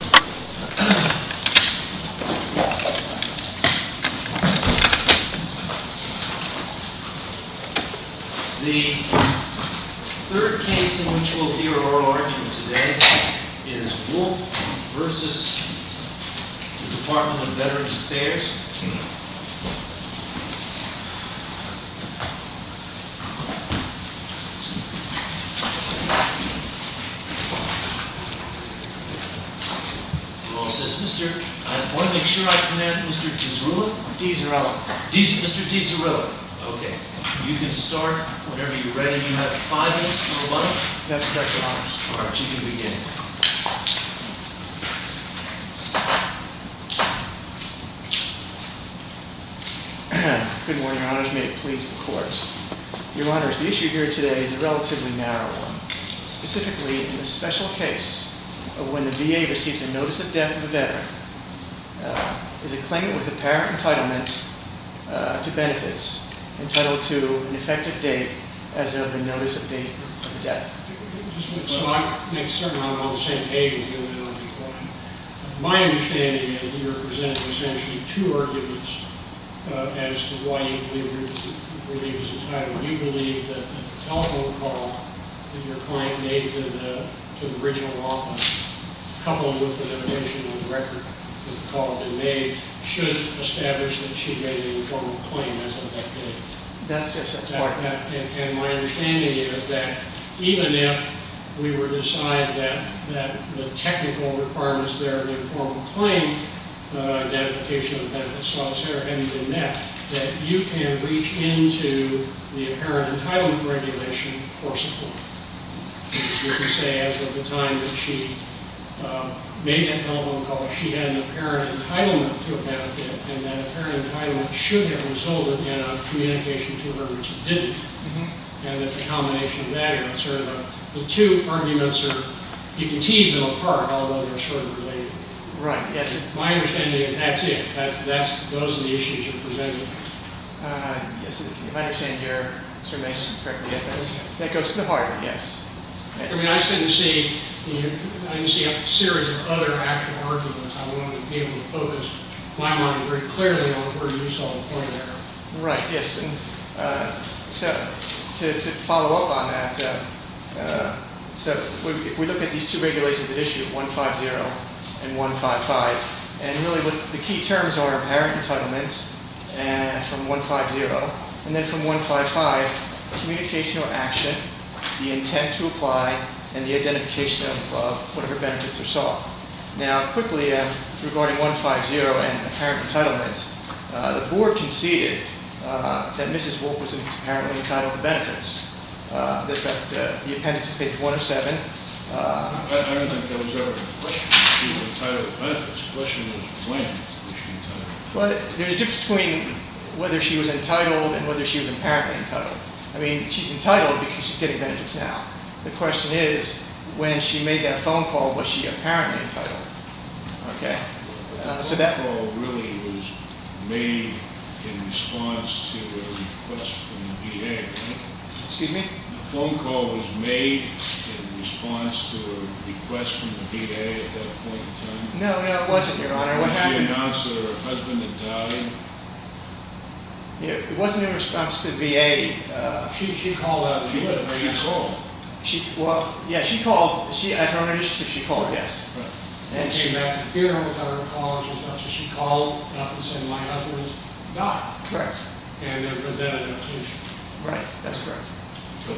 The third case in which we'll hear oral argument today is Wolfe v. Department of Veterans Affairs. Your Honor, the issue here today is a relatively narrow one. Specifically, in this special case, when the VA receives a notice of death of a veteran, is a claimant with apparent entitlement to benefits entitled to an effective date as of the notice of date of death. My understanding is that you're presenting essentially two arguments as to why you believe it was entitled. You believe that the telephone call that your client made to the regional office, coupled with the notation on the record of the call that was made, should establish that she made an informal claim as of that date. And my understanding is that even if we were to decide that the technical requirements there in the informal claim identification of benefits, etc., etc., that you can reach into the apparent entitlement regulation for support. You can say as of the time that she made that telephone call, and that apparent entitlement should have resulted in a communication to her which it didn't. And that the combination of that and sort of the two arguments are, you can tease them apart, although they're sort of related. Right, yes. My understanding is that's it. That's, those are the issues you're presenting. Yes, if I understand your summation correctly. Yes, that goes to the heart, yes. I mean, I certainly see, I can see a series of other actual arguments I want to be able to focus. My mind is very clearly on where you saw the point there. Right, yes. And so to follow up on that, so if we look at these two regulations that issue 150 and 155, and really the key terms are apparent entitlement from 150, and then from 155, communication or action, the intent to apply, and the identification of whatever benefits are sought. Now, quickly, regarding 150 and apparent entitlement, the board conceded that Mrs. Wolfe was apparently entitled to benefits. The appendix is page 107. I don't think there was ever a question whether she was entitled to benefits. The question was when was she entitled. Well, there's a difference between whether she was entitled and whether she was apparently entitled. I mean, she's entitled because she's getting benefits now. The question is when she made that phone call, was she apparently entitled? Okay. So that call really was made in response to a request from the VA, right? Excuse me? The phone call was made in response to a request from the VA at that point in time? No, no, it wasn't, Your Honor. What happened? Did she announce that her husband had died? It wasn't in response to VA. She called out and said that her husband had died. Well, yeah, she called. At her own initiative, she called, yes. She came back to the funeral with all her colleagues and stuff, so she called up and said my husband has died. Correct. And then presented an objection. Right, that's correct.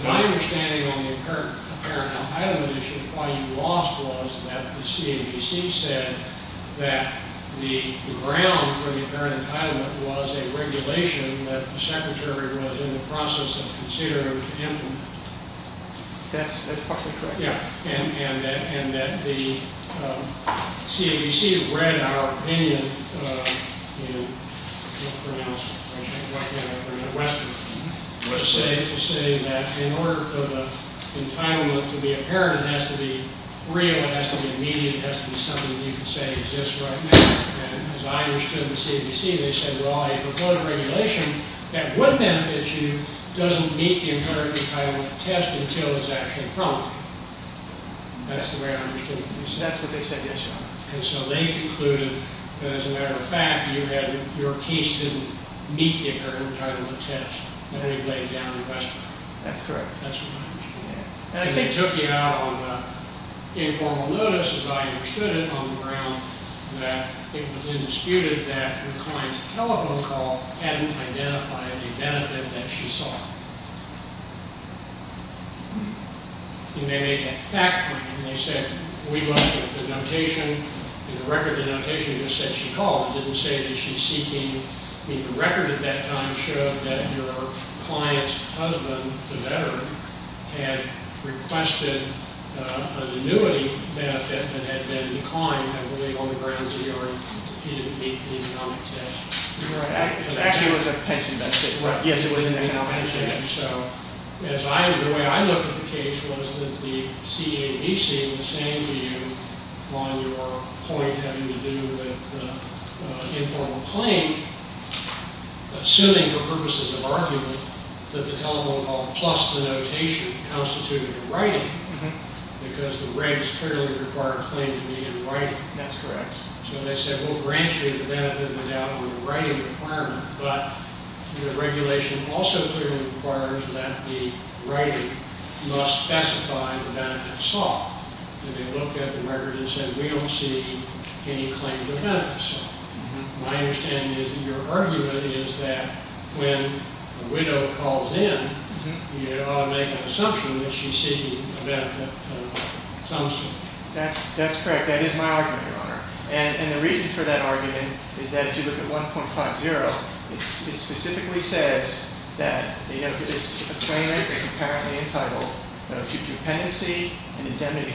My understanding on the apparent entitlement issue, why you lost was that the CAVC said that the ground for the apparent entitlement was a regulation that the secretary was in the process of considering to implement. That's partially correct. Yeah. And that the CAVC read our opinion in Western to say that in order for the entitlement to be apparent, it has to be real, it has to be immediate, it has to be something that you can say exists right now. And as I understood the CAVC, they said, well, I have a vote of regulation that would benefit you, doesn't meet the apparent entitlement test until it's actually promulgated. That's the way I understood it. That's what they said, yes, Your Honor. And so they concluded that as a matter of fact, you had your case didn't meet the apparent entitlement test that had been laid down in Western. That's correct. That's what I understood. And I think it took you out on informal notice, as I understood it, on the ground that it was indisputed that the client's telephone call hadn't identified the benefit that she saw. And they made that fact frame. They said, we looked at the notation and the record of the notation just said she called. It didn't say that she's seeking the record at that time showed that your client's husband, the veteran, had requested an annuity benefit that had been declined, I believe, on the grounds that he didn't meet the economic test. You're right. Actually, it was a pension benefit. Right. Yes, it was an economic benefit. So the way I looked at the case was that the CAVC was saying to you, on your point having to do with the informal claim, assuming for purposes of argument that the telephone call plus the notation constituted a writing, because the regs clearly require a claim to be in writing. That's correct. So they said, we'll grant you the benefit without a writing requirement, but the regulation also clearly requires that the writing must specify the benefit sought. And they looked at the record and said, we don't see any claim to benefit sought. My understanding is that your argument is that when a widow calls in, you ought to make an assumption that she's seeking a benefit. That's correct. That is my argument, Your Honor. And the reason for that argument is that if you look at 1.50, it specifically says that the claimant is apparently entitled to dependency and indemnity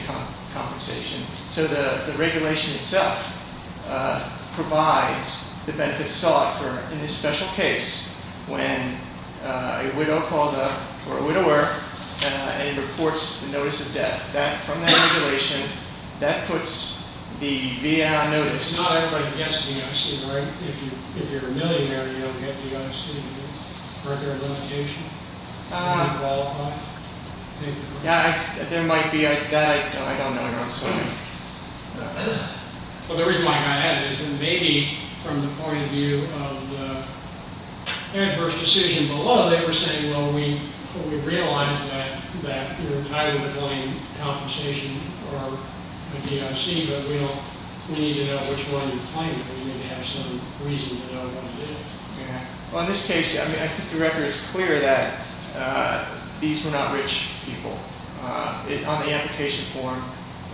compensation. So the regulation itself provides the benefit sought for in this special case when a widow or a widower reports a notice of death. From that regulation, that puts the VA on notice. It's not everybody gets VA, right? If you're a millionaire, you don't get VA. Are there limitations? Do you qualify? There might be. That I don't know, Your Honor. Well, the reason why I added it is maybe from the point of view of the adverse decision below, they were saying, well, we realize that you're entitled to claim compensation or a DOC, but we need to know which one you're claiming, but you need to have some reason to know what it is. Well, in this case, I think the record is clear that these were not rich people. On the application form.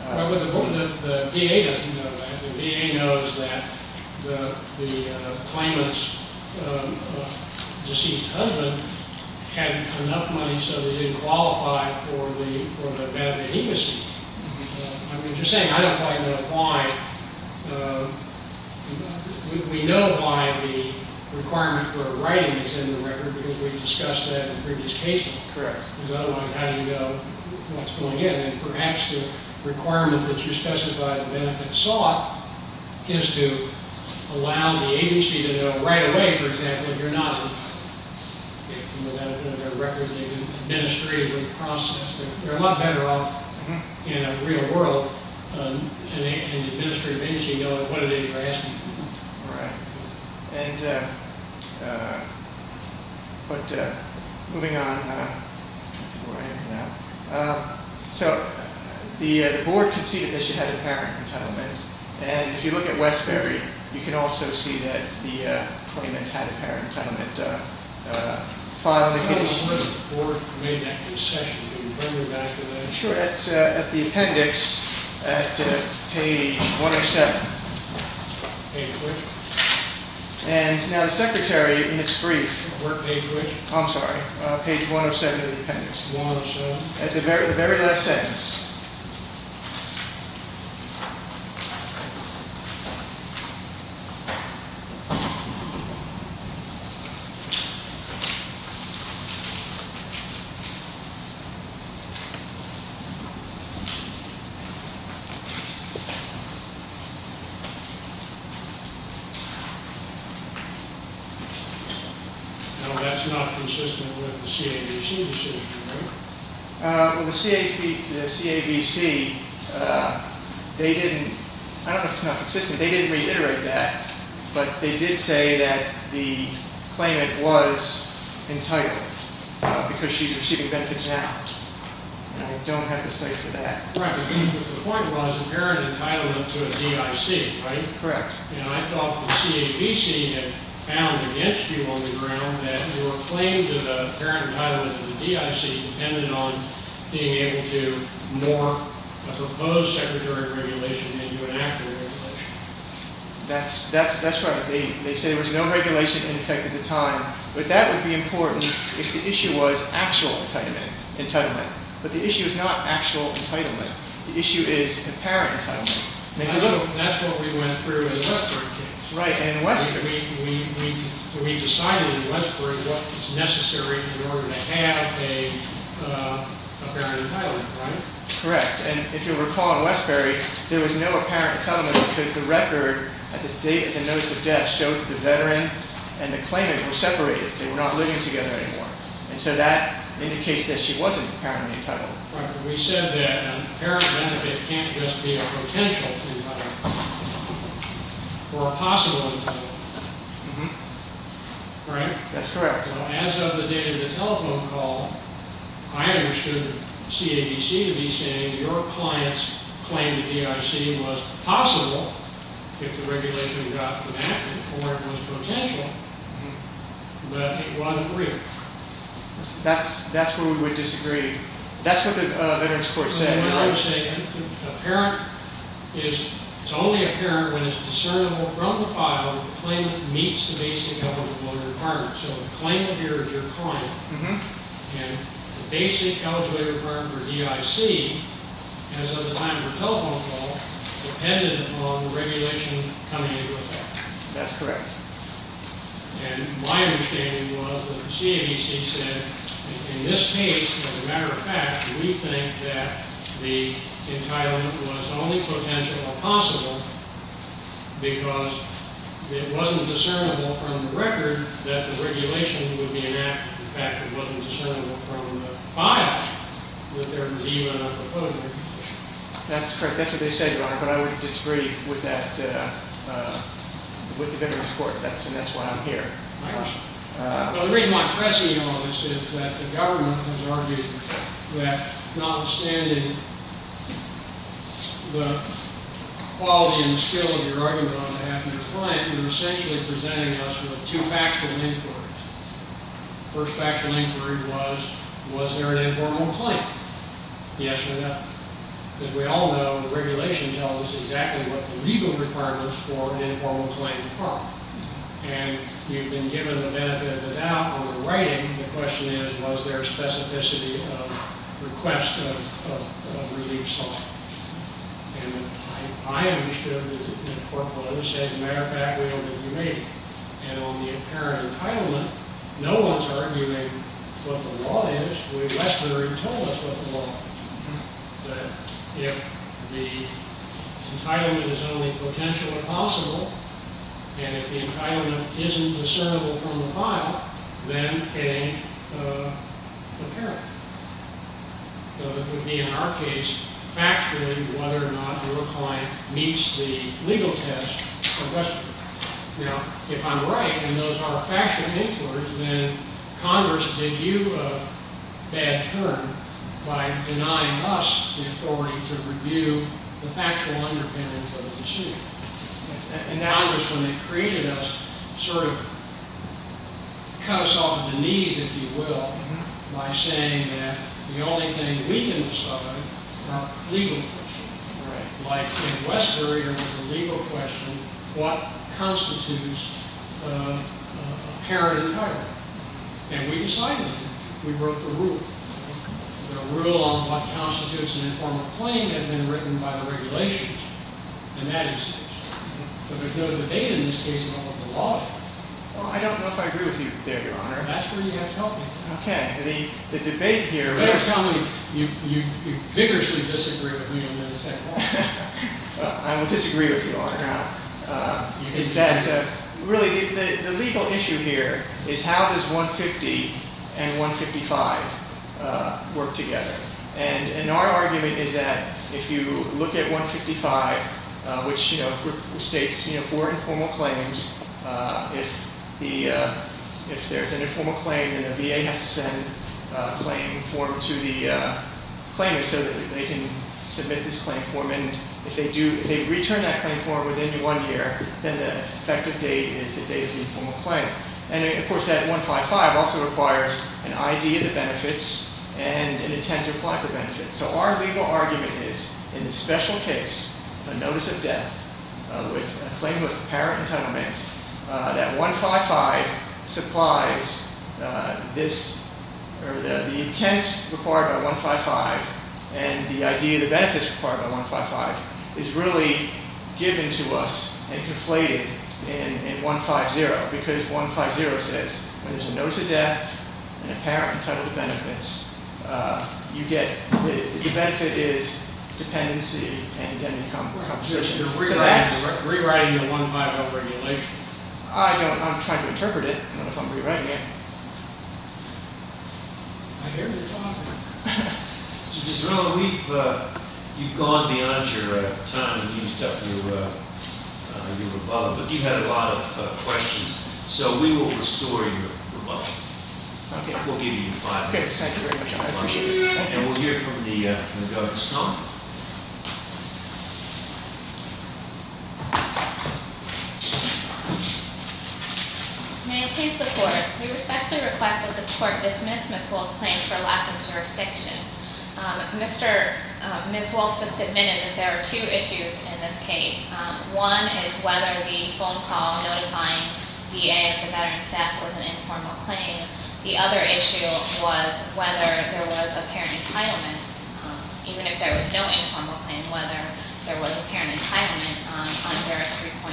Well, but the VA doesn't know that. The VA knows that the claimant's deceased husband had enough money so they didn't qualify for the benefit of dependency. I mean, you're saying I don't quite know why. We know why the requirement for writing is in the record because we've discussed that in previous cases. Correct. How do you know what's going in? And perhaps the requirement that you specify the benefit sought is to allow the agency to know right away, for example, if you're not representing an administrative process. They're a lot better off in a real world, and the administrative agency knows what it is you're asking for. Right. But moving on. So the board conceded that she had a parent entitlement, and if you look at Westbury, you can also see that the claimant had a parent entitlement filed against her. Where was the board made that concession? Can you bring me back to that? Sure. It's at the appendix at page 107. Page which? And now the secretary in its brief. What page which? I'm sorry, page 107 of the appendix. 107. At the very last sentence. No, that's not consistent with the CAVC decision, right? Well, the CAVC, they didn't. I don't know if it's not consistent. They didn't reiterate that. But they did say that the claimant was entitled because she's receiving benefits now. And I don't have the cite for that. Right, but the point was a parent entitlement to a DIC, right? Correct. And I thought the CAVC had found against you on the ground that your claim to the parent entitlement to the DIC depended on being able to morph a proposed secretary of regulation into an actual regulation. That's right. They say there was no regulation in effect at the time, but that would be important if the issue was actual entitlement. But the issue is not actual entitlement. The issue is apparent entitlement. That's what we went through in the Westbury case. Right, in Westbury. We decided in Westbury what is necessary in order to have a parent entitlement, right? Correct. And if you'll recall in Westbury, there was no apparent entitlement because the record at the date of the notice of death showed that the veteran and the claimant were separated. They were not living together anymore. And so that indicates that she wasn't apparently entitled. Right, but we said that an apparent benefit can't just be a potential entitlement or a possible entitlement, right? That's correct. So as of the date of the telephone call, I understood CAVC to be saying your client's claim to DIC was possible if the regulation got enacted or it was potential, but it wasn't real. That's where we would disagree. That's what the veteran's court said. But what I'm saying, apparent is, it's only apparent when it's discernible from the file the claimant meets the basic eligibility requirement. So the claimant here is your client, and the basic eligibility requirement for DIC as of the time of the telephone call depended upon the regulation coming into effect. That's correct. And my understanding was that CAVC said, in this case, as a matter of fact, we think that the entitlement was only potential or possible because it wasn't discernible from the record that the regulation would be enacted. In fact, it wasn't discernible from the file that there was even a proposed regulation. That's correct. That's what they said, Your Honor. But I would disagree with the veteran's court, and that's why I'm here. My question. Well, the reason why I'm pressing you on this is that the government has argued that notwithstanding the quality and the skill of your argument on behalf of your client, you're essentially presenting us with two factual inquiries. The first factual inquiry was, was there an informal complaint? Yes or no. As we all know, the regulation tells us exactly what the legal requirements for an informal complaint are. And you've been given the benefit of the doubt on the writing. The question is, was there a specificity of request of relief sought? And I understood that the court would have said, as a matter of fact, we don't think you made it. And on the apparent entitlement, no one's arguing what the law is. But Westler had told us what the law is, that if the entitlement is only potential or possible, and if the entitlement isn't discernible from the file, then a parent. So it would be, in our case, factually whether or not your client meets the legal test of Westler. If I'm right and those are factual inquiries, then Congress gave you a bad turn by denying us the authority to review the factual underpinnings of the suit. And Congress, when they created us, sort of cut us off at the knees, if you will, by saying that the only thing we can decide are legal questions. Like, in Westler, you're asking a legal question, what constitutes a parent entitlement? And we decided it. We wrote the rule. The rule on what constitutes an informal claim had been written by the regulations in that instance. So there's no debate in this case about what the law is. Well, I don't know if I agree with you there, Your Honor. That's where you have to help me. OK. The debate here is. You vigorously disagree with me on the other side. I will disagree with you, Your Honor. Is that really the legal issue here is how does 150 and 155 work together? And our argument is that if you look at 155, which states four informal claims, if there's an informal claim, then the VA has to send a claim form to the claimant so that they can submit this claim form. And if they return that claim form within one year, then the effective date is the date of the informal claim. And, of course, that 155 also requires an ID of the benefits and an intent to apply for benefits. So our legal argument is, in this special case, a notice of death with a claim of apparent entitlement, that 155 supplies this, or the intent required by 155 and the ID of the benefits required by 155 is really given to us and conflated in 150. Because 150 says when there's a notice of death and apparent entitlement benefits, you get, the benefit is dependency and indemnity compensation. You're rewriting the 150 regulation. I'm trying to interpret it. I don't know if I'm rewriting it. I hear you talking. Mr. Gisron, you've gone beyond your time and used up your rebuttal. But you've had a lot of questions. So we will restore your rebuttal. OK. We'll give you five minutes. Thank you very much. I appreciate it. And we'll hear from the Governor's comment. May I please report? We respectfully request that this court dismiss Ms. Wolfe's claim for lack of jurisdiction. Ms. Wolfe just admitted that there are two issues in this case. One is whether the phone call notifying VA of the veteran's death was an informal claim. The other issue was whether there was apparent entitlement, even if there was no informal claim, whether there was apparent entitlement under 3.050.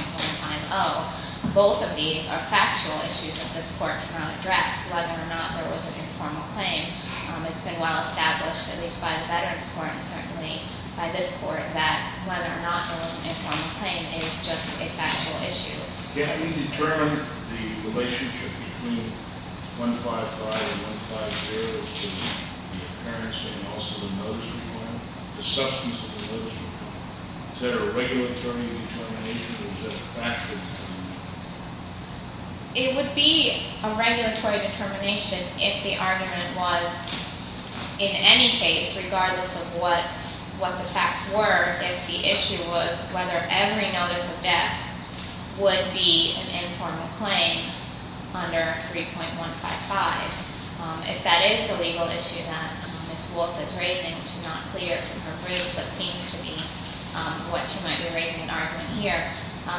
Both of these are factual issues that this court cannot address, whether or not there was an informal claim. It's been well established, at least by the Veterans Court and certainly by this court, that whether or not there was an informal claim is just a factual issue. Can we determine the relationship between 155 and 150, the appearance and also the substance of the notice of death? Is that a regulatory determination or is that a factual determination? It would be a regulatory determination if the argument was, in any case, regardless of what the facts were, if the issue was whether every notice of death would be an informal claim under 3.155. If that is the legal issue that Ms. Wolfe is raising, which is not clear from her briefs, but seems to be what she might be raising in argument here,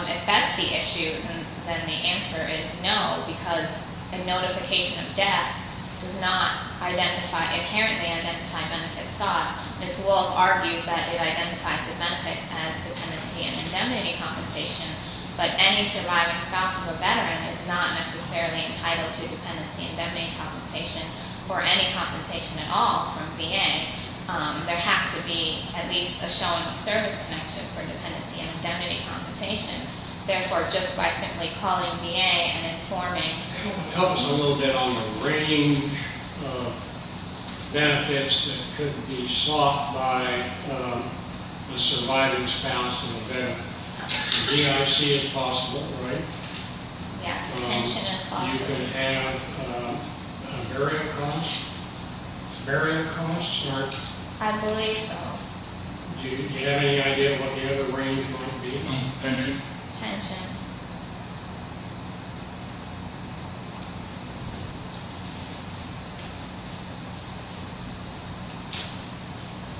if that's the issue, then the answer is no, because a notification of death does not identify, inherently identify benefits sought. Ms. Wolfe argues that it identifies the benefits as dependency and indemnity compensation, but any surviving spouse of a Veteran is not necessarily entitled to dependency and indemnity compensation or any compensation at all from VA. There has to be at least a showing of service connection for dependency and indemnity compensation. Therefore, just by simply calling VA and informing... Help us a little bit on the range of benefits that could be sought by a surviving spouse of a Veteran. DIC is possible, right? Yes, pension is possible. You can have burial costs. Burial costs or... I believe so. Do you have any idea what the other range might be? Pension. Pension.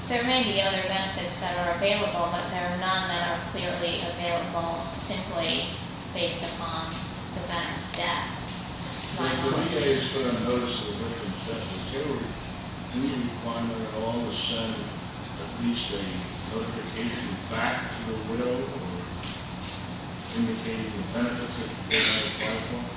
There may be other benefits that are available, but there are none that are clearly available, simply based upon the Veteran's death. If the VA has put a notice of a Veteran's death in theory, do you require that it all be sent at least a notification back to the will or indicating the benefits that the VA requires from it?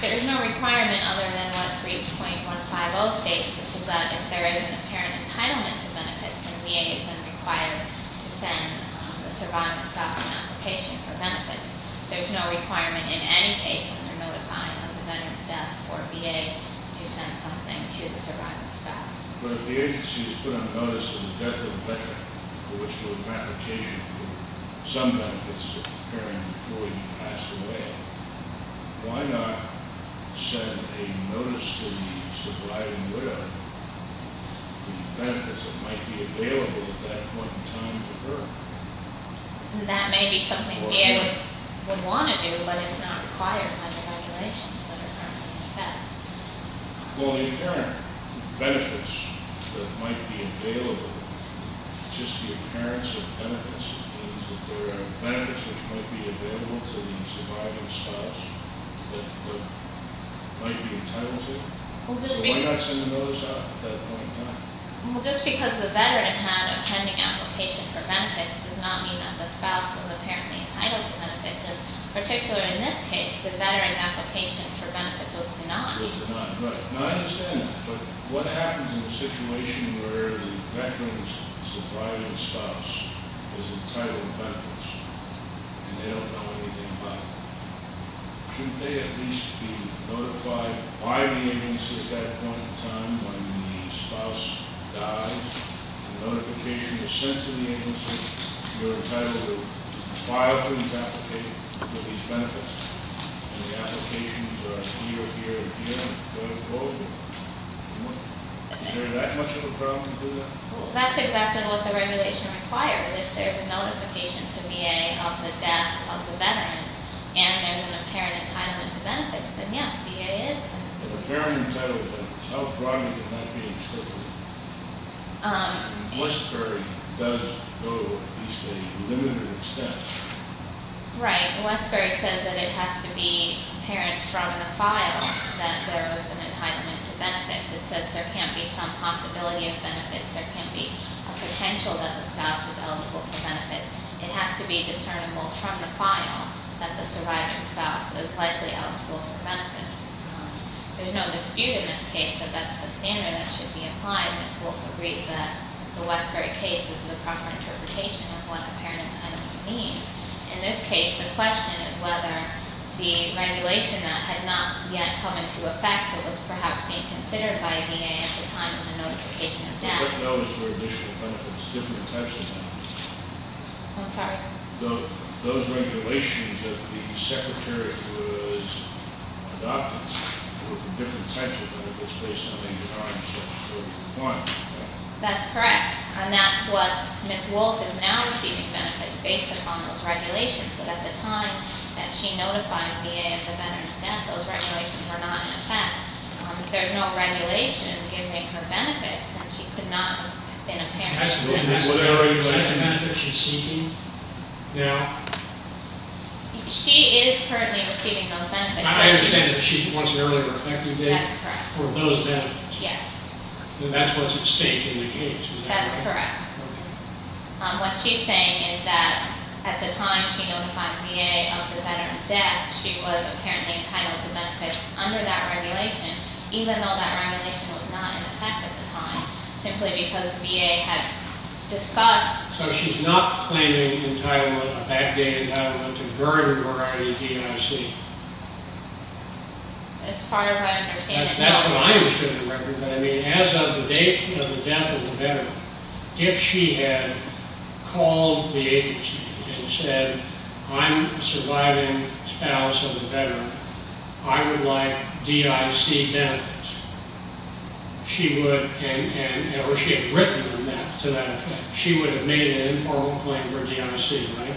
There is no requirement other than what 3.150 states, which is that if there is an apparent entitlement to benefits, then VA is then required to send the surviving spouse an application for benefits. There is no requirement in any case under notifying of the Veteran's death or VA to send something to the surviving spouse. But if the agency has put a notice of the death of a Veteran for which there was an application for some benefits of the parent before he passed away, why not send a notice to the surviving widow of the benefits that might be available at that point in time to her? That may be something the VA would want to do, but it's not required under regulations that are currently in effect. Well, the apparent benefits that might be available, just the appearance of benefits means that there are benefits that might be available to the surviving spouse that might be entitled to. So why not send a notice out at that point in time? The notice does not mean that the spouse is apparently entitled to benefits. In particular in this case, the Veteran application for benefits was denied. It was denied, right. Now, I understand that, but what happens in a situation where the Veteran's surviving spouse is entitled to benefits and they don't know anything about it? Shouldn't they at least be notified by the agency at that point in time when the spouse dies? The notification is sent to the agency, you're entitled to file for these benefits, and the applications are here, here, and here, and go to closing. Is there that much of a problem with that? Well, that's exactly what the regulation requires. If there's a notification to VA of the death of the Veteran and there's an apparent entitlement to benefits, then yes, VA is entitled. If a Veteran is entitled to benefits, how broadly can that be interpreted? Westbury does go at least a limited extent. Right. Westbury says that it has to be apparent from the file that there was an entitlement to benefits. It says there can't be some possibility of benefits. There can't be a potential that the spouse is eligible for benefits. It has to be discernible from the file that the surviving spouse is likely eligible for benefits. There's no dispute in this case that that's the standard that should be applied. Ms. Wolk agrees that the Westbury case is the proper interpretation of what apparent entitlement means. In this case, the question is whether the regulation that had not yet come into effect that was perhaps being considered by VA at the time is a notification of death. What those were additional benefits, different types of benefits? I'm sorry? Those regulations that the Secretary was adopting were different types of benefits based on the time steps that were required. That's correct. And that's what Ms. Wolk is now receiving benefits based upon those regulations. But at the time that she notified VA of the Veteran's death, those regulations were not in effect. There's no regulation giving her benefits, and she could not have been a parent of a Veteran. Is that the benefit she's seeking now? She is currently receiving those benefits. I understand that she wants an early reflective date for those benefits. Yes. And that's what's at stake in the case, is that correct? That's correct. What she's saying is that at the time she notified VA of the Veteran's death, she was apparently entitled to benefits under that regulation, even though that regulation was not in effect at the time, simply because VA had discussed. So she's not claiming entitlement, a backdated entitlement to a very large variety of DIC. As far as I understand it, no. That's what I understood in the record. But, I mean, as of the date of the death of the Veteran, if she had called the agency and said, I'm a surviving spouse of a Veteran, I would like DIC benefits, she would have made an informal claim for DIC, right?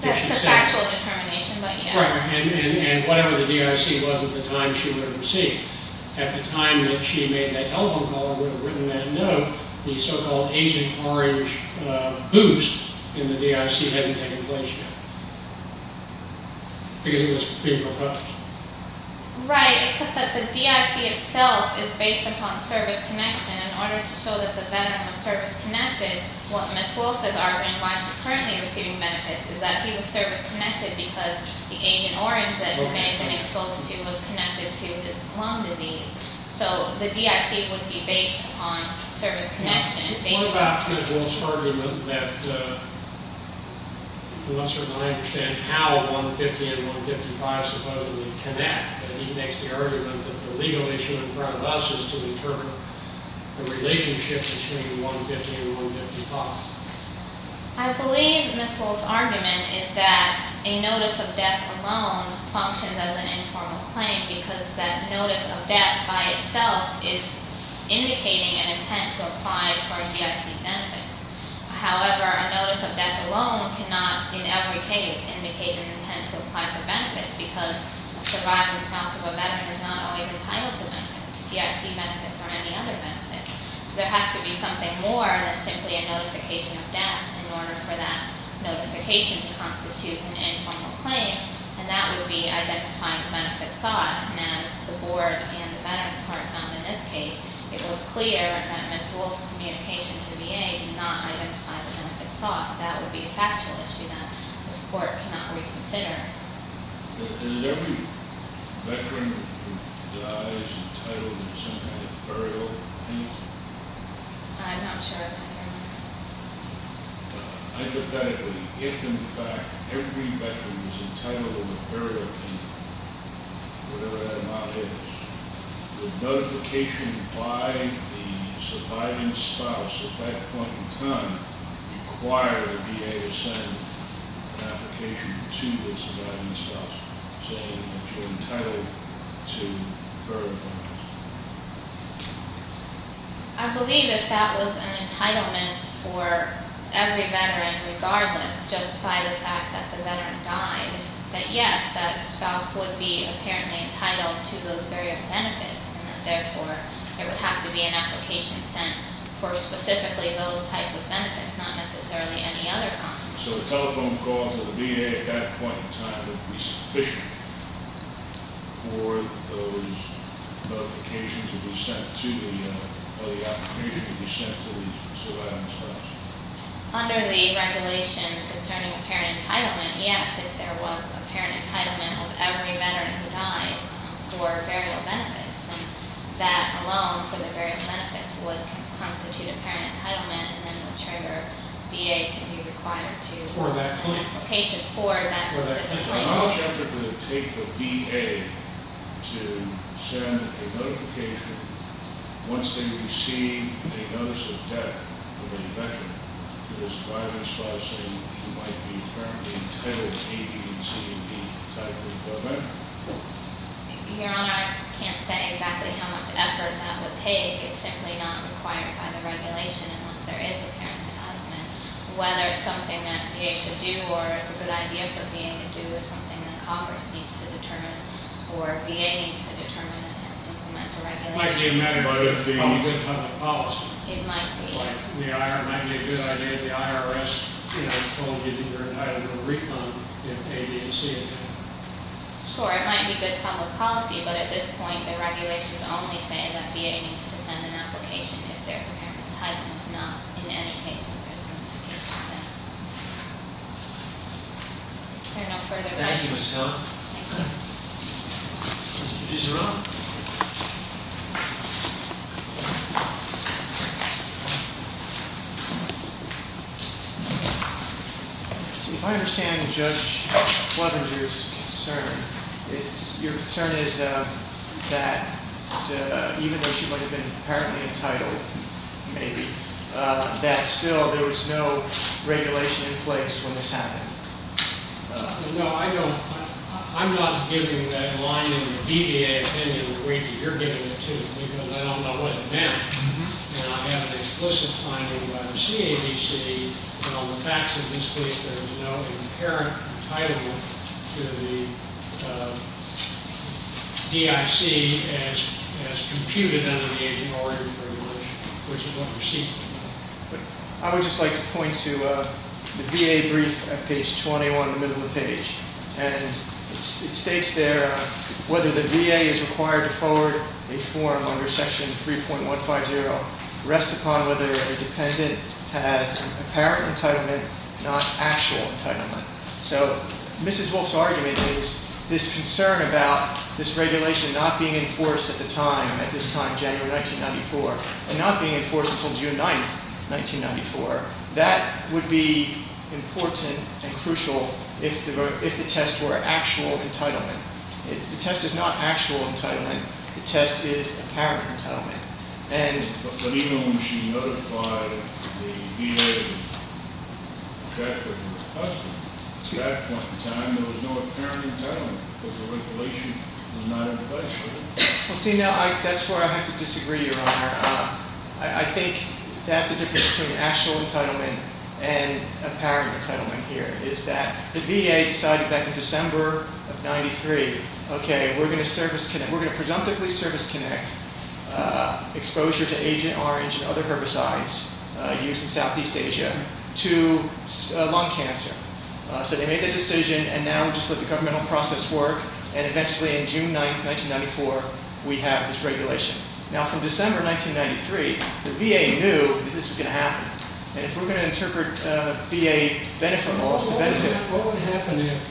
That's a factual determination, but yes. And whatever the DIC was at the time, she would have received. At the time that she made that telephone call, would have written that note, the so-called Agent Orange boost in the DIC hadn't taken place yet, because it was being proposed. Right, except that the DIC itself is based upon service connection. In order to show that the Veteran was service-connected, what Ms. Wolf has argued, and why she's currently receiving benefits, is that he was service-connected because the Agent Orange that the man had been exposed to was connected to his lung disease. So the DIC would be based upon service connection. What about Ms. Wolf's argument that, unless I understand how 150 and 155 supposedly connect, that he makes the argument that the legal issue in front of us is to determine the relationship between 150 and 155? I believe Ms. Wolf's argument is that a notice of death alone functions as an informal claim, because that notice of death by itself is indicating an intent to apply for DIC benefits. However, a notice of death alone cannot, in every case, indicate an intent to apply for benefits, because a surviving spouse of a Veteran is not always entitled to DIC benefits or any other benefits. So there has to be something more than simply a notification of death in order for that notification to constitute an informal claim, and that would be identifying the benefits sought. And as the Board and the Medical Department found in this case, it was clear that Ms. Wolf's communication to the VA did not identify the benefits sought. That would be a factual issue that this Court cannot reconsider. Is every Veteran who dies entitled to some kind of burial payment? I'm not sure I can hear you. Hypothetically, if in fact every Veteran is entitled to a burial payment, whatever that amount is, the notification by the surviving spouse at that point in time required the VA to send an application to the surviving spouse, saying that you're entitled to a burial payment. I believe if that was an entitlement for every Veteran, regardless, just by the fact that the Veteran died, that yes, that spouse would be apparently entitled to those burial benefits, and that therefore, there would have to be an application sent for specifically those type of benefits, not necessarily any other kind. So a telephone call to the VA at that point in time would be sufficient for those notifications to be sent to the, or the opportunity to be sent to the surviving spouse? Under the regulation concerning apparent entitlement, yes, if there was apparent entitlement of every Veteran who died for burial benefits, then that alone for the burial benefits would constitute apparent entitlement, and then would trigger VA to be required to- For that claim. For that specific claim. How much effort would it take for VA to send a notification once they receive a notice of death of any Veteran to the surviving spouse saying you might be apparently entitled to A, B, and C, and D type of benefit? Your Honor, I can't say exactly how much effort that would take. It's simply not required by the regulation unless there is apparent entitlement. Whether it's something that VA should do, or it's a good idea for VA to do, is something that Congress needs to determine, or VA needs to determine and implement the regulation. It might be a matter of public policy. It might be. The IRS might be a good idea if the IRS told you that you're entitled to a refund if A, B, and C. Sure, it might be good public policy, but at this point, the regulations only say that VA needs to send an application if there's apparent entitlement, and not in any case if there's a notification of death. If there are no further questions- Thank you, Ms. Kellogg. Thank you. Mr. Giseron. If I understand Judge Fleminger's concern, your concern is that even though she might have been apparently entitled, maybe, that still there was no regulation in place when this happened. No, I don't. I'm not giving that line in the BVA opinion the way that you're giving it to me, because I don't know what it meant. And I have an explicit finding by the CABC that on the facts of this case, there is no apparent entitlement to the DIC as computed under the anti-mortgage provision, which is what we're seeking. I would just like to point to the VA brief at page 21 in the middle of the page. And it states there, whether the VA is required to forward a form under section 3.150 rests upon whether a dependent has apparent entitlement, not actual entitlement. So, Mrs. Wolfe's argument is, this concern about this regulation not being enforced at the time, at this time, January 1994, and not being enforced until June 9th, 1994, that would be important and crucial if the test were actual entitlement. The test is not actual entitlement. The test is apparent entitlement. And- But even when she notified the VA that there was a question, at that point in time, there was no apparent entitlement, because the regulation was not in place for that. Well, see, now, that's where I have to disagree, Your Honor. I think that's the difference between actual entitlement and apparent entitlement here, is that the VA decided back in December of 93, okay, we're going to presumptively service-connect exposure to Agent Orange and other herbicides used in Southeast Asia to lung cancer. So they made the decision, and now just let the governmental process work. And eventually, on June 9th, 1994, we have this regulation. Now, from December 1993, the VA knew that this was going to happen. And if we're going to interpret VA benefit laws to benefit- What would happen if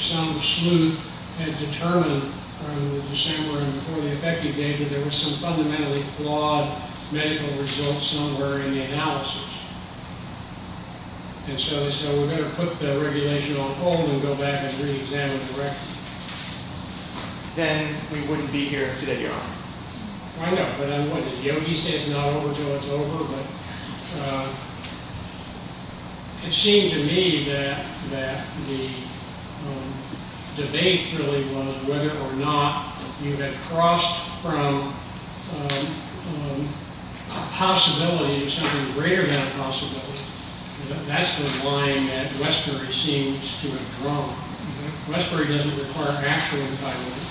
some sleuth had determined in December and before the effective date that there was some fundamentally flawed medical result somewhere in the analysis? And so they said, well, we're going to put the regulation on hold and go back and reexamine it directly. Then we wouldn't be here today, Your Honor. I know, but what, did Yogi say it's not over until it's over? But it seemed to me that the debate really was whether or not if you had crossed from a possibility to something greater than a possibility, that that's the line that Westbury seems to have drawn. Westbury doesn't require actual entitlement.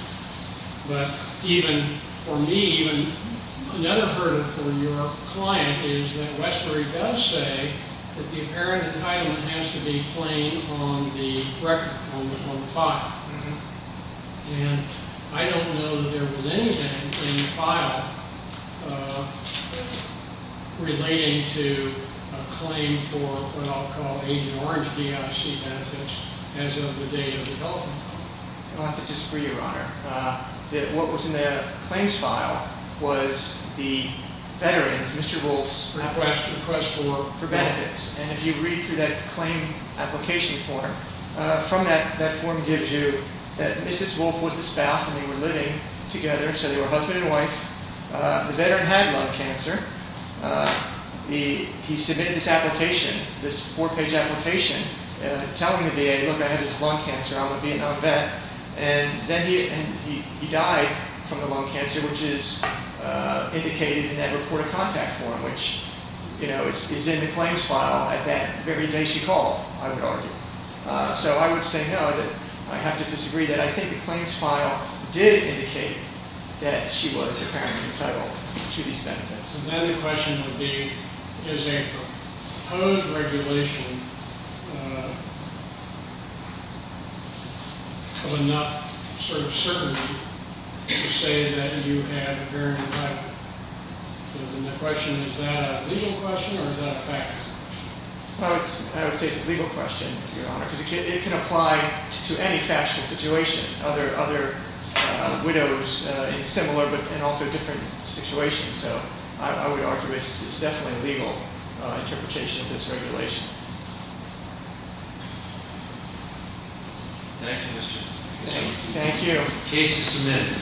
But even for me, even another verdict for your client is that Westbury does say that the apparent entitlement has to be plain on the record, on the file. And I don't know that there was anything in the file relating to a claim for what I'll call an orange DIC benefit as of the date of development. I'll have to disagree, Your Honor. What was in the claims file was the veteran's, Mr. Wolf's- Request for- For benefits. And if you read through that claim application form, from that form gives you that Mrs. Wolf was the spouse and they were living together, so they were husband and wife. The veteran had lung cancer. He submitted this application, this four-page application, telling the VA, look, I have this lung cancer, I'm a Vietnam vet. And then he died from the lung cancer, which is indicated in that report of contact form, which is in the claims file at that very day she called, I would argue. So I would say, no, I'd have to disagree, that I think the claims file did indicate that she was apparently entitled to these benefits. So then the question would be, is a proposed regulation of enough sort of certainty to say that you had a veteran entitled? And the question is, is that a legal question or is that a factual question? I would say it's a legal question, Your Honor, because it can apply to any factual situation. Other widows, it's similar but in also different situations. So I would argue it's definitely a legal interpretation of this regulation. Thank you, Mr. Chairman. Thank you. Case is submitted.